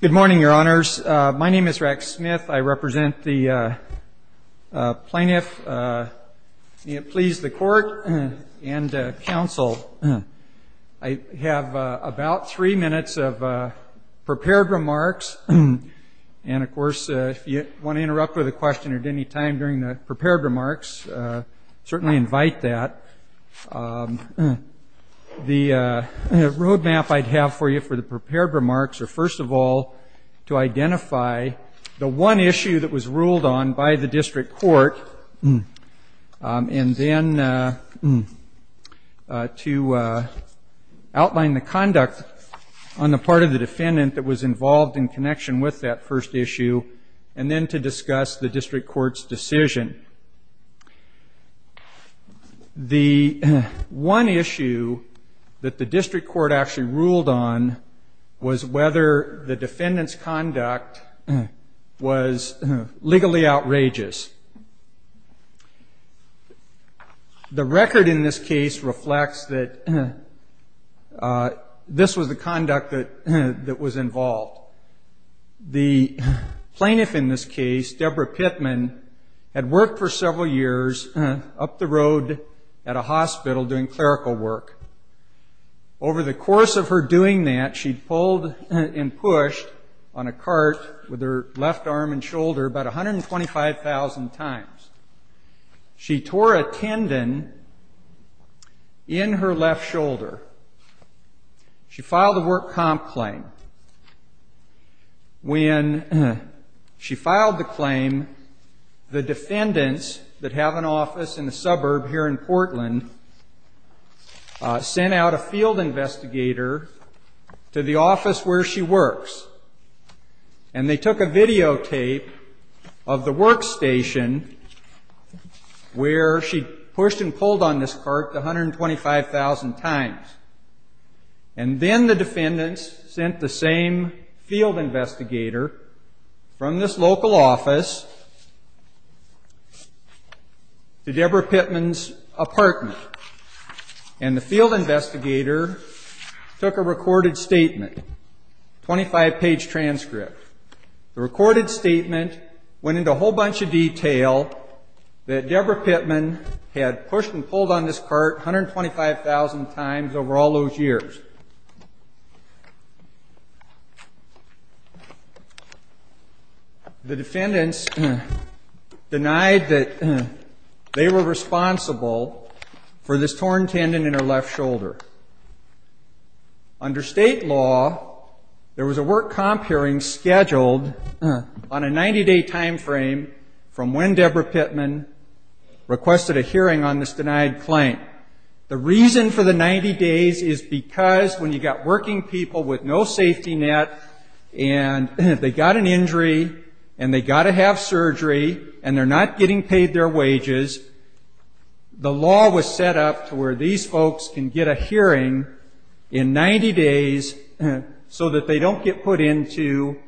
Good morning, your honors. My name is Rex Smith. I represent the plaintiff, please the court and counsel. I have about three minutes of prepared remarks. And of course, if you want to interrupt with a question at any time during the prepared remarks, certainly invite that. The roadmap I'd have for you for the prepared remarks are, first of all, to identify the one issue that was ruled on by the district court and then to outline the conduct on the part of the defendant that was involved in connection with that first issue and then to discuss the district court's decision. The one issue that the district court actually ruled on was whether the defendant's conduct was legally outrageous. The record in this case reflects that this was the conduct that was involved. The plaintiff in this case, Debra Pittman, had worked for several years up the road at a hospital doing clerical work. Over the course of her doing that, she'd pulled and pushed on a cart with her left arm and shoulder about 125,000 times. She tore a tendon in her left shoulder. She filed a work comp claim. When she filed the claim, the defendants that have an office in the suburb here in Portland sent out a field investigator to the where she pushed and pulled on this cart 125,000 times. And then the defendants sent the same field investigator from this local office to Debra Pittman's apartment. And the field investigator took a that Debra Pittman had pushed and pulled on this cart 125,000 times over all those years. The defendants denied that they were responsible for this torn tendon in her left shoulder. Under state law, there was a work comp hearing scheduled on a 90-day time frame from when Debra Pittman requested a hearing on this denied claim. The reason for the 90 days is because when you've got working people with no safety net and they got an injury and they got to have surgery and they're not getting paid their wages, the was set up to where these folks can get a hearing in 90 days so that they don't get put into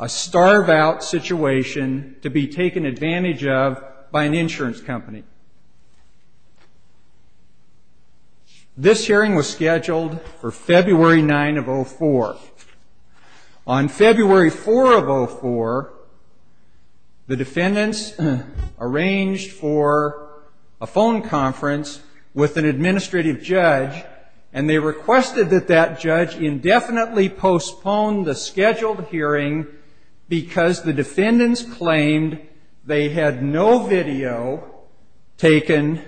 a starve-out situation to be taken advantage of by an insurance company. This hearing was scheduled for February 9 of 04. On February 4 of 04, the defendants arranged for a phone conference with an administrative judge, and they requested that that judge indefinitely postpone the scheduled hearing because the defendants claimed they had no video taken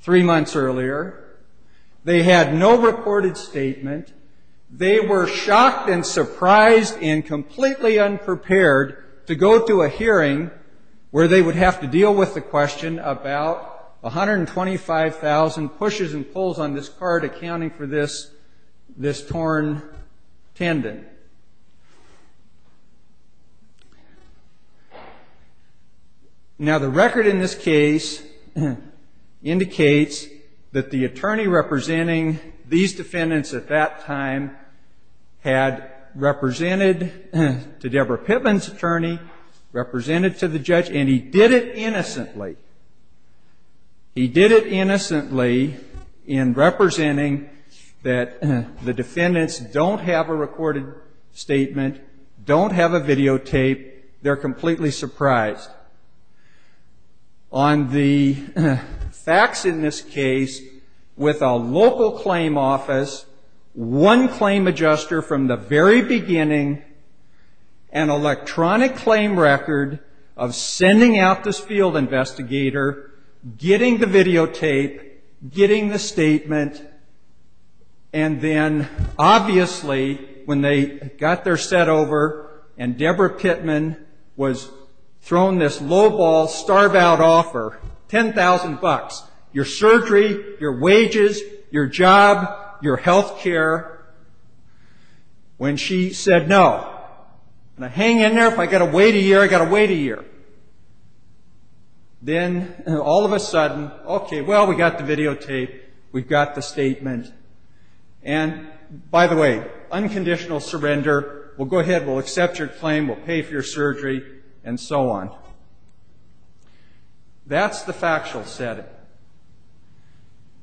three months earlier. They had no reported statement. They were shocked and surprised and completely unprepared to go to a hearing where they would have to deal with the question about 125,000 pushes and pulls on this card accounting for this torn tendon. Now, the record in this case indicates that the attorney representing these defendants at that time had represented to Debra Pittman's attorney, represented to the judge, and did it innocently. He did it innocently in representing that the defendants don't have a recorded statement, don't have a videotape. They're completely surprised. On the facts in this case, with a local claim office, one claim adjuster from the very beginning, an electronic claim record of sending out this field investigator, getting the videotape, getting the statement, and then, obviously, when they got their set over and Debra Pittman was thrown this lowball, starve-out offer, $10,000, your surgery, your wages, your job, your health care, when she said, no, I'm going to hang in there. If I've got to wait a year, I've got to wait a year. Then all of a sudden, okay, well, we've got the videotape, we've got the statement, and, by the way, unconditional surrender, we'll go ahead, we'll accept your claim, we'll pay for your surgery, and so on. That's the factual setting.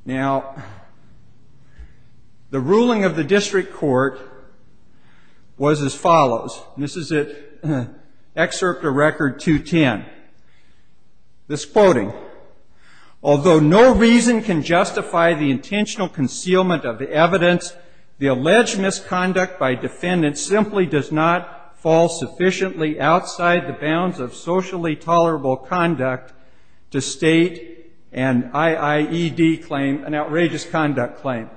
Now, the ruling of the district court was as follows, and this is at Excerpt of Record 210. This quoting, although no reason can justify the intentional concealment of the evidence, the alleged misconduct by defendants simply does not fall sufficiently outside the bounds of socially tolerable conduct to state an IIED claim, an outrageous conduct claim.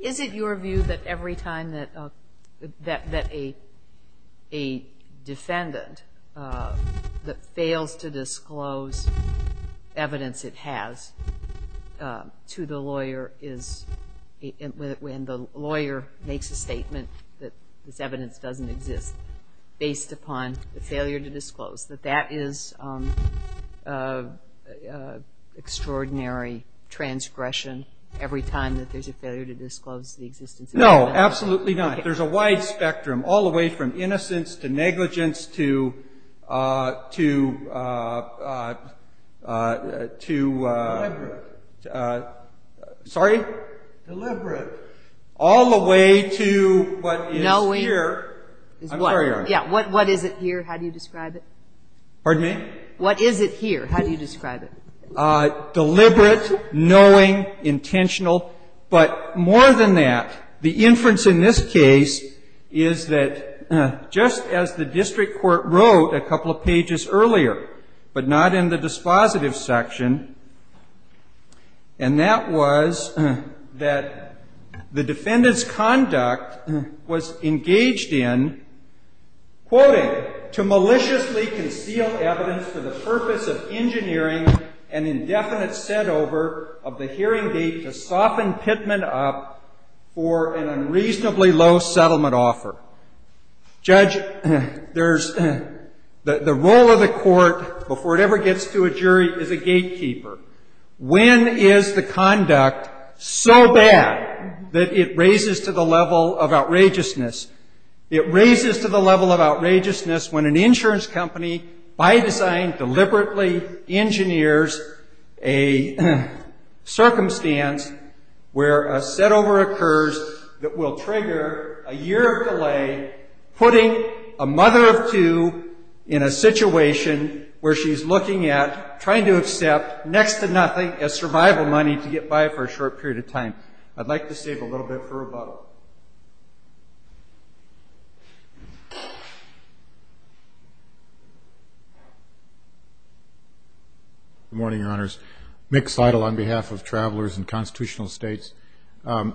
Is it your view that every time that a defendant that fails to disclose evidence it has to the lawyer is, when the lawyer makes a preliminary transgression, every time that there's a failure to disclose the existence of evidence. No, absolutely not. There's a wide spectrum, all the way from innocence to negligence to, to, to, sorry? Deliberate. All the way to what is here, I'm sorry. Yeah, what is it here? How do you describe it? Deliberate, knowing, intentional, but more than that, the inference in this case is that just as the district court wrote a couple of pages earlier, but not in the dispositive section, and that was that the defendant's conduct was engaged in, quoting, to maliciously conceal evidence for the purpose of engineering an indefinite setover of the hearing gate to soften Pittman up for an unreasonably low settlement offer. Judge, there's, the, the role of the court, before it ever gets to a jury, is a gatekeeper. When is the conduct so bad that it raises to the level of outrageousness when an insurance company, by design, deliberately engineers a circumstance where a setover occurs that will trigger a year of delay, putting a mother of two in a situation where she's looking at trying to accept next to nothing as survival money to get by for a short period of time? I'd like to save a little bit for rebuttal. Good morning, Your Honors. Mick Seidel on behalf of Travelers and Constitutional States. As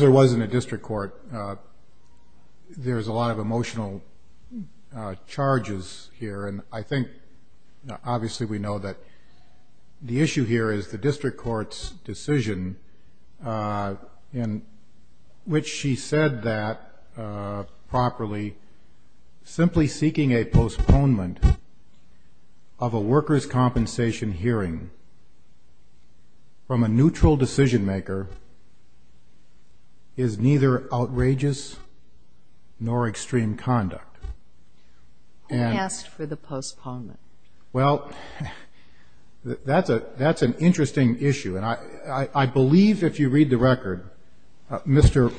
there was in the district court, there's a lot of Obviously, we know that the issue here is the district court's decision in which she said that, properly, simply seeking a postponement of a worker's Well, that's a, that's an interesting issue. And I, I believe if you read the record, Mr.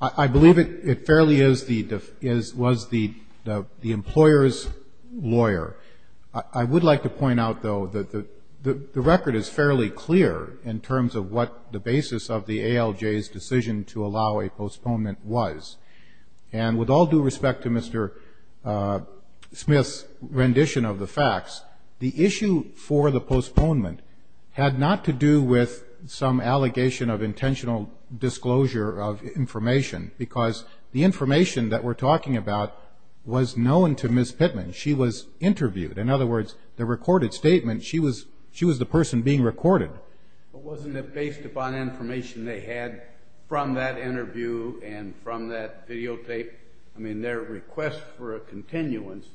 I, I believe it, it fairly is the, is, was the, the employer's lawyer. I, I would like to point out, though, that the, the record is fairly clear in terms of what the basis of the ALJ's decision to allow a postponement was. And with all due respect to Mr. Smith's rendition of the facts, the issue for the postponement had not to do with some allegation of intentional disclosure of information, because the information that we're talking about was known to Ms. Pittman. She was interviewed. In other words, the recorded statement, she was, she was the person being recorded. But wasn't it based upon information they had from that interview and from that videotape? I mean, their request for a continuance,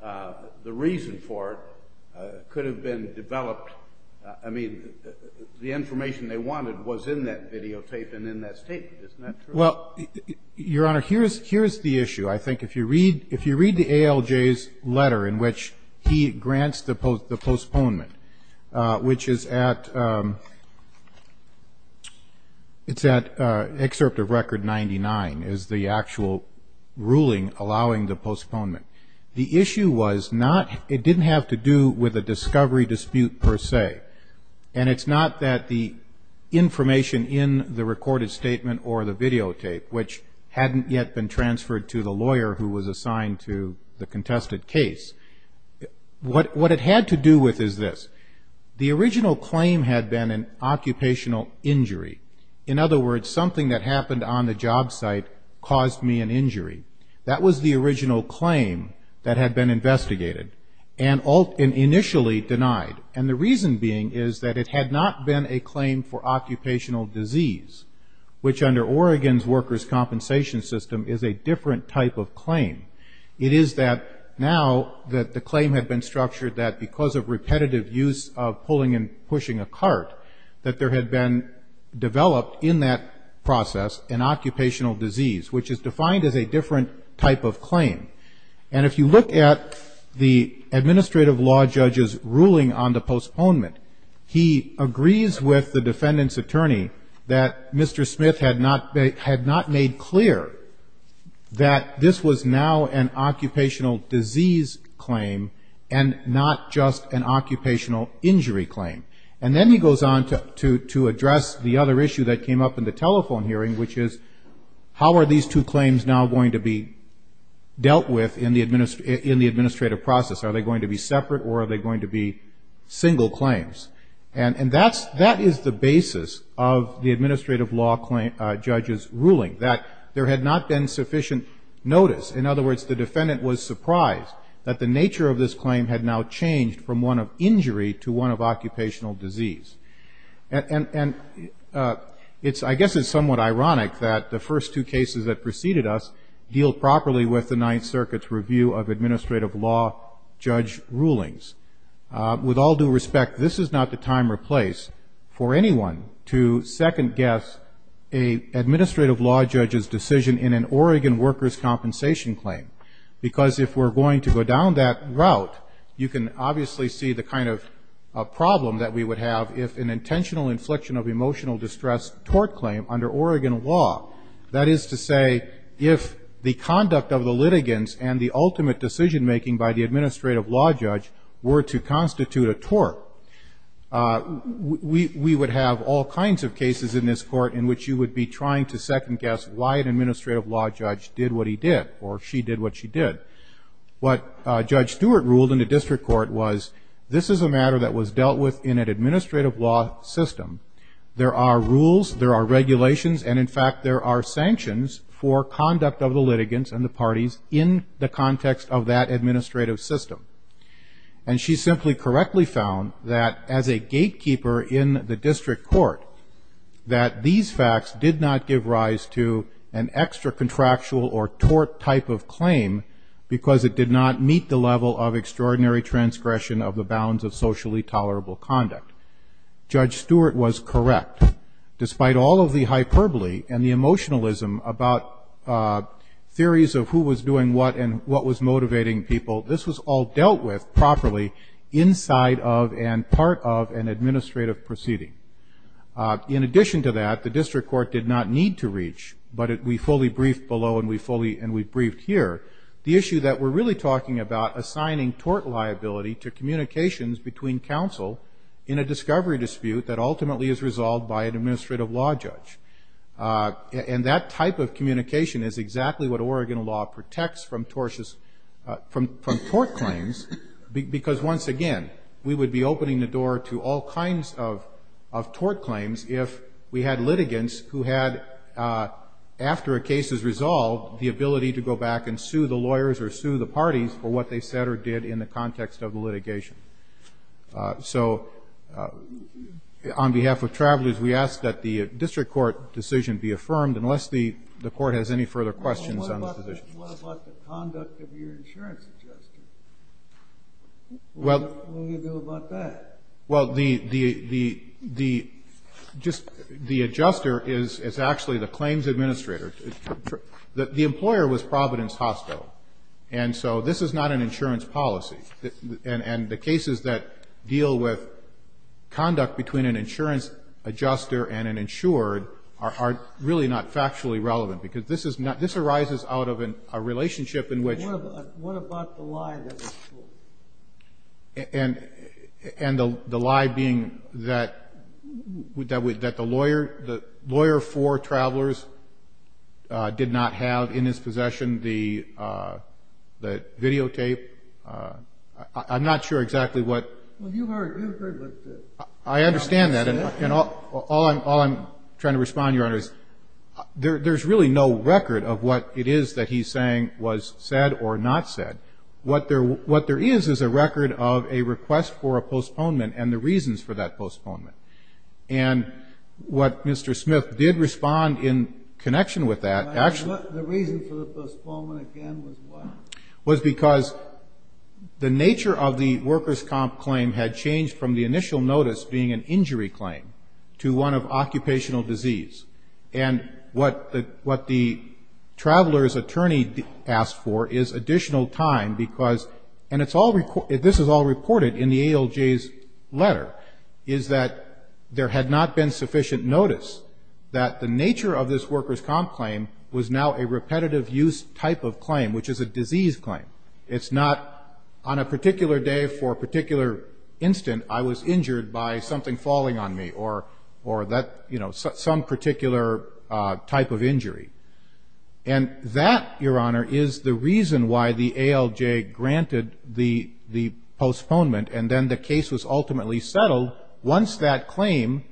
the reason for it could have been developed. I mean, the information they wanted was in that videotape and in that statement. Isn't that true? Well, Your Honor, here's, here's the issue. I think if you read, if you read the ALJ's letter in which he grants the postponement, which is at, it's at excerpt of Record 99, is the actual ruling allowing the postponement. The issue was not, it didn't have to do with a discovery dispute per se. And it's not that the information in the recorded statement or the videotape, which hadn't yet been transferred to the lawyer who was assigned to the contested case. What, what it had to do with is this. The original claim had been an occupational injury. In other words, something that happened on the is that it had not been a claim for occupational disease, which under Oregon's workers' compensation system is a different type of claim. It is that now that the claim had been structured that because of repetitive use of pulling and pushing a cart, that there had been developed in that process an occupational disease, which is defined as a different type of claim. And if you look at the administrative law judge's ruling on the postponement, he agrees with the defendant's attorney that Mr. Smith had not, had not made clear that this was now an occupational disease claim and not just an occupational injury claim. And then he goes on to, to, to in the administrative process. Are they going to be separate or are they going to be single claims? And, and that's, that is the basis of the administrative law claim, judge's ruling that there had not been sufficient notice. In other words, the defendant was surprised that the nature of this claim had now changed from one of injury to one of occupational disease. And, and, and it's, I guess it's somewhat ironic that the first two circuits review of administrative law judge rulings. With all due respect, this is not the time or place for anyone to second guess a administrative law judge's decision in an Oregon workers' compensation claim. Because if we're going to go down that route, you can obviously see the kind of problem that we would have if an intentional infliction of emotional distress tort claim under Oregon law, that is to say if the conduct of the litigants and the ultimate decision making by the administrative law judge were to constitute a tort, we, we would have all kinds of cases in this court in which you would be trying to second guess why an administrative law judge did what he did or she did what she did. What Judge Stewart ruled in the district court was this is a matter that was dealt with in an administrative law system. There are rules, there are in the context of that administrative system. And she simply correctly found that as a gatekeeper in the district court, that these facts did not give rise to an extra contractual or tort type of claim because it did not meet the level of extraordinary transgression of the bounds of and what was motivating people. This was all dealt with properly inside of and part of an administrative proceeding. In addition to that, the district court did not need to reach, but we fully briefed below and we fully, and we briefed here, the issue that we're really talking about assigning tort liability to communications between counsel in a discovery dispute that ultimately is resolved by an administrative law judge. And that type of communication is exactly what Oregon law protects from tortious, from, from tort claims because once again, we would be opening the door to all kinds of, of tort claims if we had litigants who had, after a case is resolved, the ability to go back and sue the lawyers or sue the parties for what they said or did in the context of the litigation. So on behalf of travelers, we ask that the district court decision be affirmed unless the, the court has any further questions on this position. What about the conduct of your insurance adjuster? What will you do about that? Well, the, the, the, the, just the adjuster is, is actually the claims administrator. The employer was Providence Hospital. And so this is not an are, are really not factually relevant because this is not, this arises out of an, a relationship in which. What about, what about the lie that was told? And, and the, the lie being that, that, that the lawyer, the lawyer for travelers did not have in his possession the, the videotape. I'm not sure exactly what. Well, you heard, you heard what the. I understand that. And all, all I'm, all I'm trying to respond, Your Honor, is there, there's really no record of what it is that he's saying was said or not said. What there, what there is, is a record of a request for a postponement and the reasons for that postponement. And what Mr. Smith did respond in connection with that actually. The reason for the postponement again was what? Was because the nature of the workers' comp claim had changed from the initial notice being an injury claim to one of occupational disease. And what the, what the traveler's attorney asked for is additional time because, and it's all, this is all reported in the ALJ's letter, is that there had not been sufficient notice that the nature of this workers' comp claim was now a repetitive use type of claim, which is a disease claim. It's not on a particular day for a particular instant, I was injured by something falling on me or, or that, you know, some particular type of injury. And that, Your Honor, is the reason why the ALJ granted the, the postponement. And then the case was ultimately settled once that claim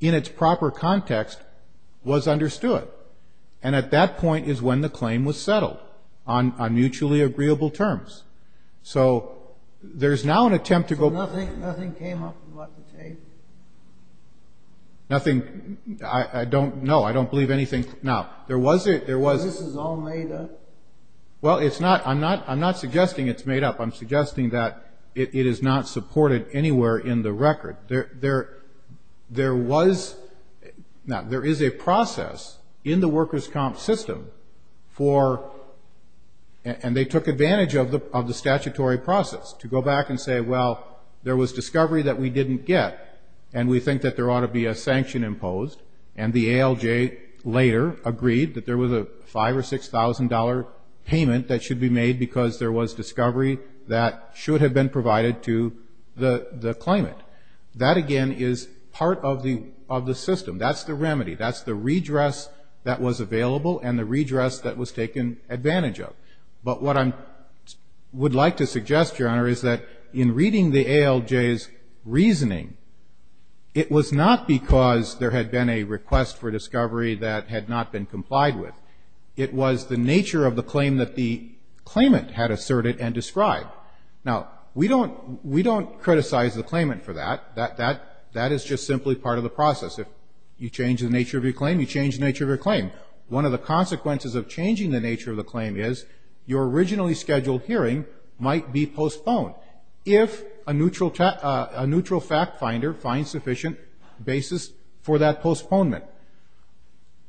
in its proper context was understood. And at that point is when the claim was settled on, on mutually agreeable terms. So there's now an attempt to go. Nothing, nothing came up about the tape? Nothing. I don't know. I don't believe anything. Now, there was a, there was. This is all made up? Well, it's not, I'm not, I'm not suggesting it's made up. I'm suggesting that it is not supported anywhere in the record. There, there, there was, now, there is a process in the workers' comp system for, and they took advantage of the, of the statutory process to go back and say, well, there was discovery that we didn't get and we think that there ought to be a sanction imposed. And the ALJ later agreed that there was a $5,000 or $6,000 payment that should be made because there was discovery that should have been provided to the, the claimant. That, again, is part of the, of the system. That's the remedy. That's the redress that was available and the redress that was taken advantage of. But what I'm, would like to suggest, Your Honor, is that in reading the ALJ's reasoning, it was not because there had been a request for discovery that had not been complied with. It was the nature of the claim that the claimant had asserted and described. Now, we don't, we don't criticize the claimant for that. That, that, that is just simply part of the process. If you change the nature of your claim, you change the nature of your claim. One of the consequences of changing the nature of the claim is your originally scheduled hearing might be postponed if a neutral, a neutral fact finder finds sufficient basis for that postponement.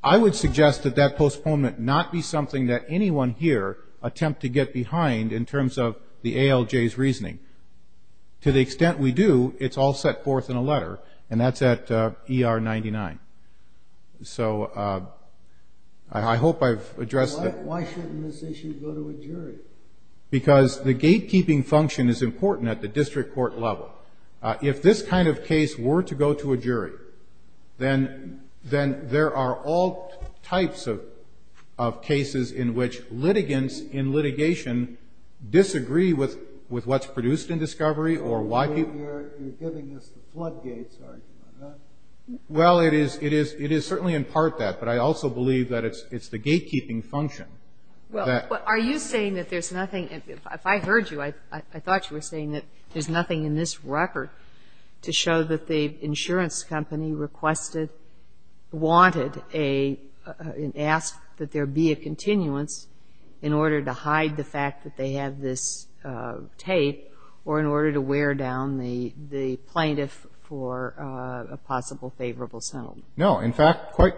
I would suggest that that postponement not be something that anyone here attempt to get behind in terms of the ALJ's reasoning. To the extent we do, it's all set forth in a letter, and that's at ER 99. So, I hope I've addressed that. Why, why shouldn't this issue go to a jury? Because the gatekeeping function is important at the district court level. If this kind of case were to go to a jury, then, then there are all types of, of cases in which litigants in litigation disagree with, with what's produced in discovery or why people are giving us the floodgates. Well, it is, it is, it is certainly in part that, but I also believe that it's, it's the gatekeeping function. Well, are you saying that there's nothing, if I heard you, I, I thought you were saying that there's nothing in this record to show that the insurance company requested, wanted a, asked that there be a continuance in order to hide the fact that they have this tape or in order to wear down the, the plaintiff for a possible favorable settlement? No. In fact, quite.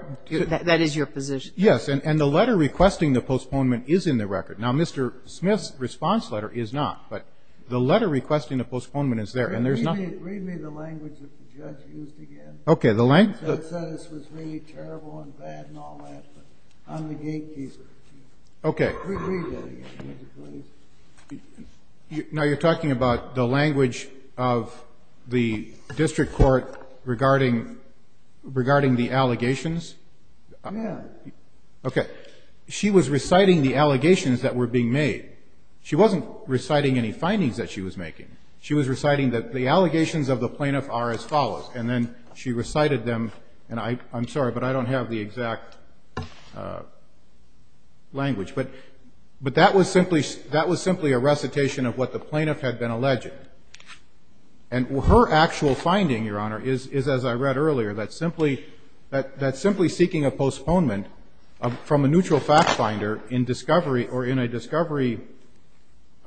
That is your position? Yes. And, and the letter requesting the postponement is in the record. Now, Mr. Smith's response letter is not, but the letter requesting the postponement is there. And there's nothing. Read me, read me the language that the judge used again. Okay. The language. That said this was really terrible and bad and all that, but I'm the gatekeeper. Okay. Read that again, would you please? Now, you're talking about the language of the district court regarding, regarding the allegations? Yes. Okay. The thing is the plaintiff, the defendant, the plaintiff stated that she was reciting the allegations that were being made. She wasn't reciting any findings that she was making. She was reciting that the allegations of the plaintiff are as follows, and then she recited them, and I'm sorry but I don't have the exact language. But, but that was simply, that was simply a recitation of what the plaintiff had been alleged. And her actual finding, Your Honor, is as I read earlier, that simply seeking a postponement from a neutral fact finder in discovery or in a discovery,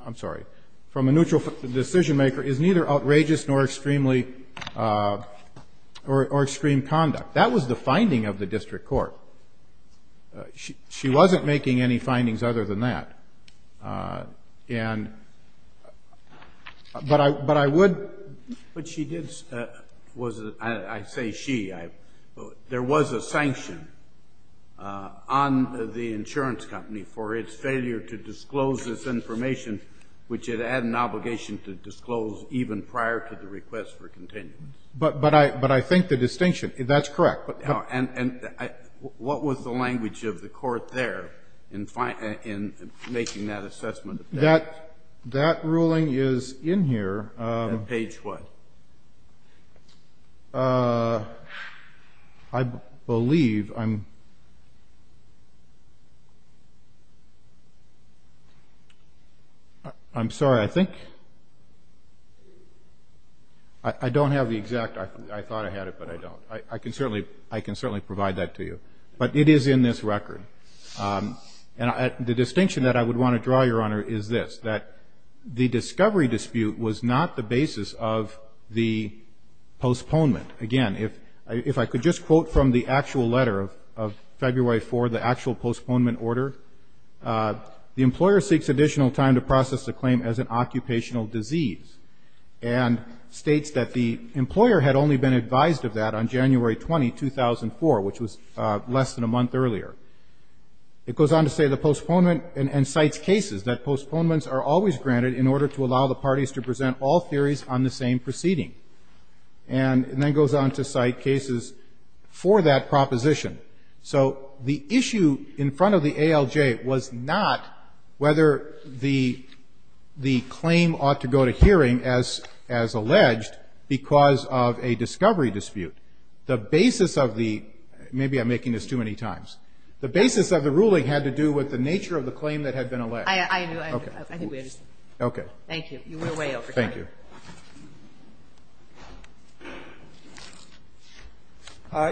I'm sorry, from a neutral decision maker is neither outrageous nor extremely, or extreme conduct. That was the finding of the district court. She wasn't making any findings other than that. And, but I, but I would. But she did, was, I say she. There was a sanction on the insurance company for its failure to disclose this information, which it had an obligation to disclose even prior to the request for continuance. But, but I, but I think the distinction, that's correct. And what was the language of the court there in making that assessment? That, that ruling is in here. Page what? I believe, I'm, I'm sorry, I think, I don't have the exact, I thought I had it, but I don't. I can certainly, I can certainly provide that to you. But it is in this record. And I, the distinction that I would want to draw, Your Honor, is this. That the discovery dispute was not the basis of the postponement. Again, if, if I could just quote from the actual letter of, of February 4, the actual postponement order. The employer seeks additional time to process the claim as an occupational disease. And states that the employer had only been advised of that on January 20, 2004, which was less than a month earlier. It goes on to say the postponement, and, and cites cases that postponements are always granted in order to allow the parties to present all theories on the same proceeding. And then goes on to cite cases for that proposition. So the issue in front of the ALJ was not whether the, the claim ought to go to hearing as, as alleged because of a discovery dispute. The basis of the, maybe I'm making this too many times. The basis of the ruling had to do with the nature of the claim that had been alleged. I, I, I, I think we understand. Okay. You went way over time. Thank you.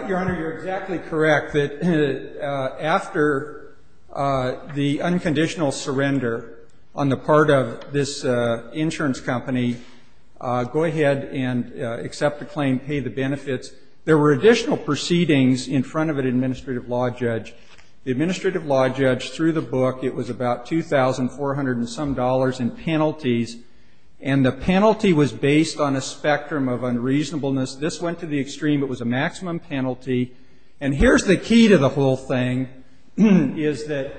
Your Honor, you're exactly correct that after the unconditional surrender on the part of this insurance company, go ahead and accept the claim, pay the benefits. There were additional proceedings in front of an administrative law judge. The administrative law judge, through the book, it was about 2,400 and some dollars in penalties. And the penalty was based on a spectrum of unreasonableness. This went to the extreme. It was a maximum penalty. And here's the key to the whole thing, is that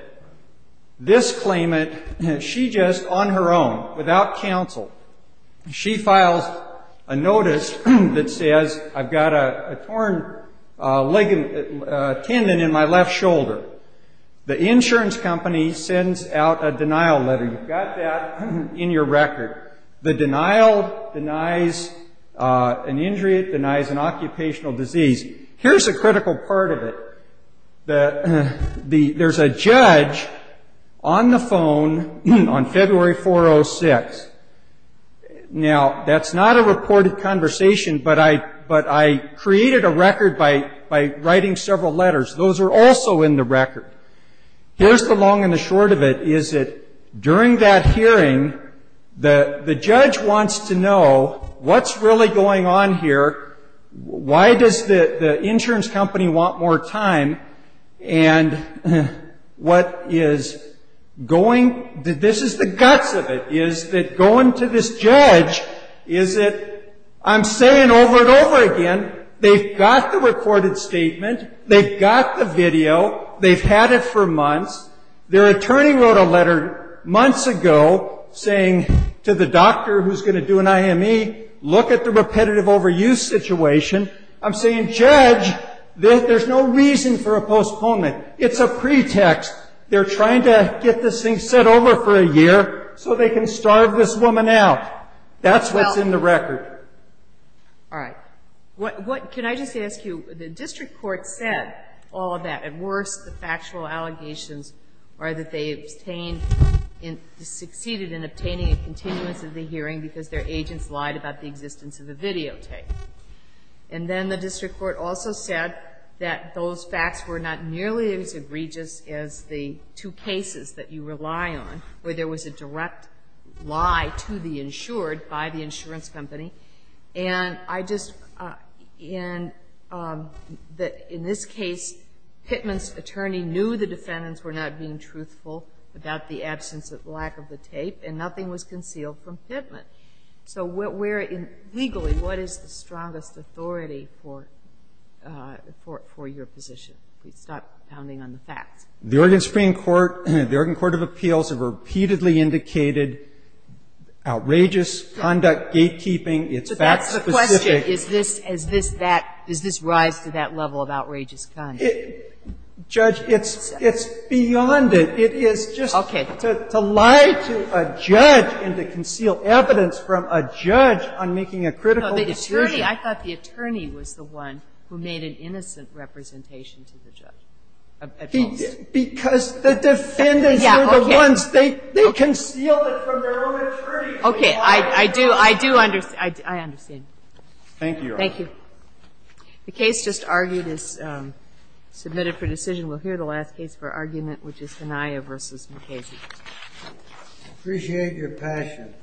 this claimant, she just, on her own, without counsel, she files a notice that says, I've got a, a torn leg, tendon in my left shoulder. The insurance company sends out a denial letter. And you've got that in your record. The denial denies an injury. It denies an occupational disease. Here's a critical part of it. The, the, there's a judge on the phone on February 4, 06. Now, that's not a reported conversation, but I, but I created a record by, by writing several letters. Those are also in the record. Here's the long and the short of it, is that during that hearing, the, the judge wants to know what's really going on here. Why does the, the insurance company want more time? And what is going, this is the guts of it, is that going to this judge, is that I'm saying over and over again, they've got the recorded statement. They've got the video. They've had it for months. Their attorney wrote a letter months ago saying to the doctor who's going to do an IME, look at the repetitive overuse situation. I'm saying, judge, there's no reason for a postponement. It's a pretext. They're trying to get this thing set over for a year so they can starve this woman out. That's what's in the record. All right. What, what, can I just ask you, the district court said all of that. At worst, the factual allegations are that they obtained, succeeded in obtaining a continuance of the hearing because their agents lied about the existence of the videotape. And then the district court also said that those facts were not nearly as egregious as the two cases that you rely on, where there was a direct lie to the insured by the insurance company. And I just, and that in this case, Pittman's attorney knew the defendants were not being truthful about the absence of, lack of the tape, and nothing was concealed from Pittman. So where, legally, what is the strongest authority for, for, for your position? Please stop pounding on the facts. The Oregon Supreme Court, the Oregon Court of Appeals have repeatedly indicated outrageous conduct, gatekeeping. It's fact specific. Is this, is this that, does this rise to that level of outrageous conduct? Judge, it's, it's beyond it. It is just to lie to a judge and to conceal evidence from a judge on making a critical decision. I thought the attorney was the one who made an innocent representation to the judge. Because the defendants are the ones, they, they concealed it from their own attorney. Okay. I, I do, I do understand. I, I understand. Thank you, Your Honor. Thank you. The case just argued is submitted for decision. We'll hear the last case for argument, which is Hanaya v. McCasey. Appreciate your passion.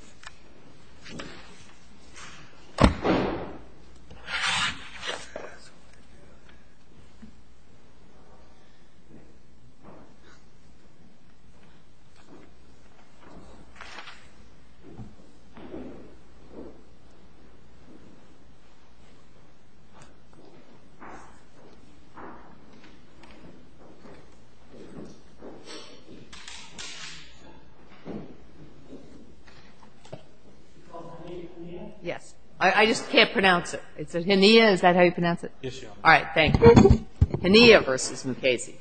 Yes, I, I just can't pronounce it. It's Hanaya, is that how you pronounce it? Yes, Your Honor. All right. Thank you. Hanaya v. McCasey.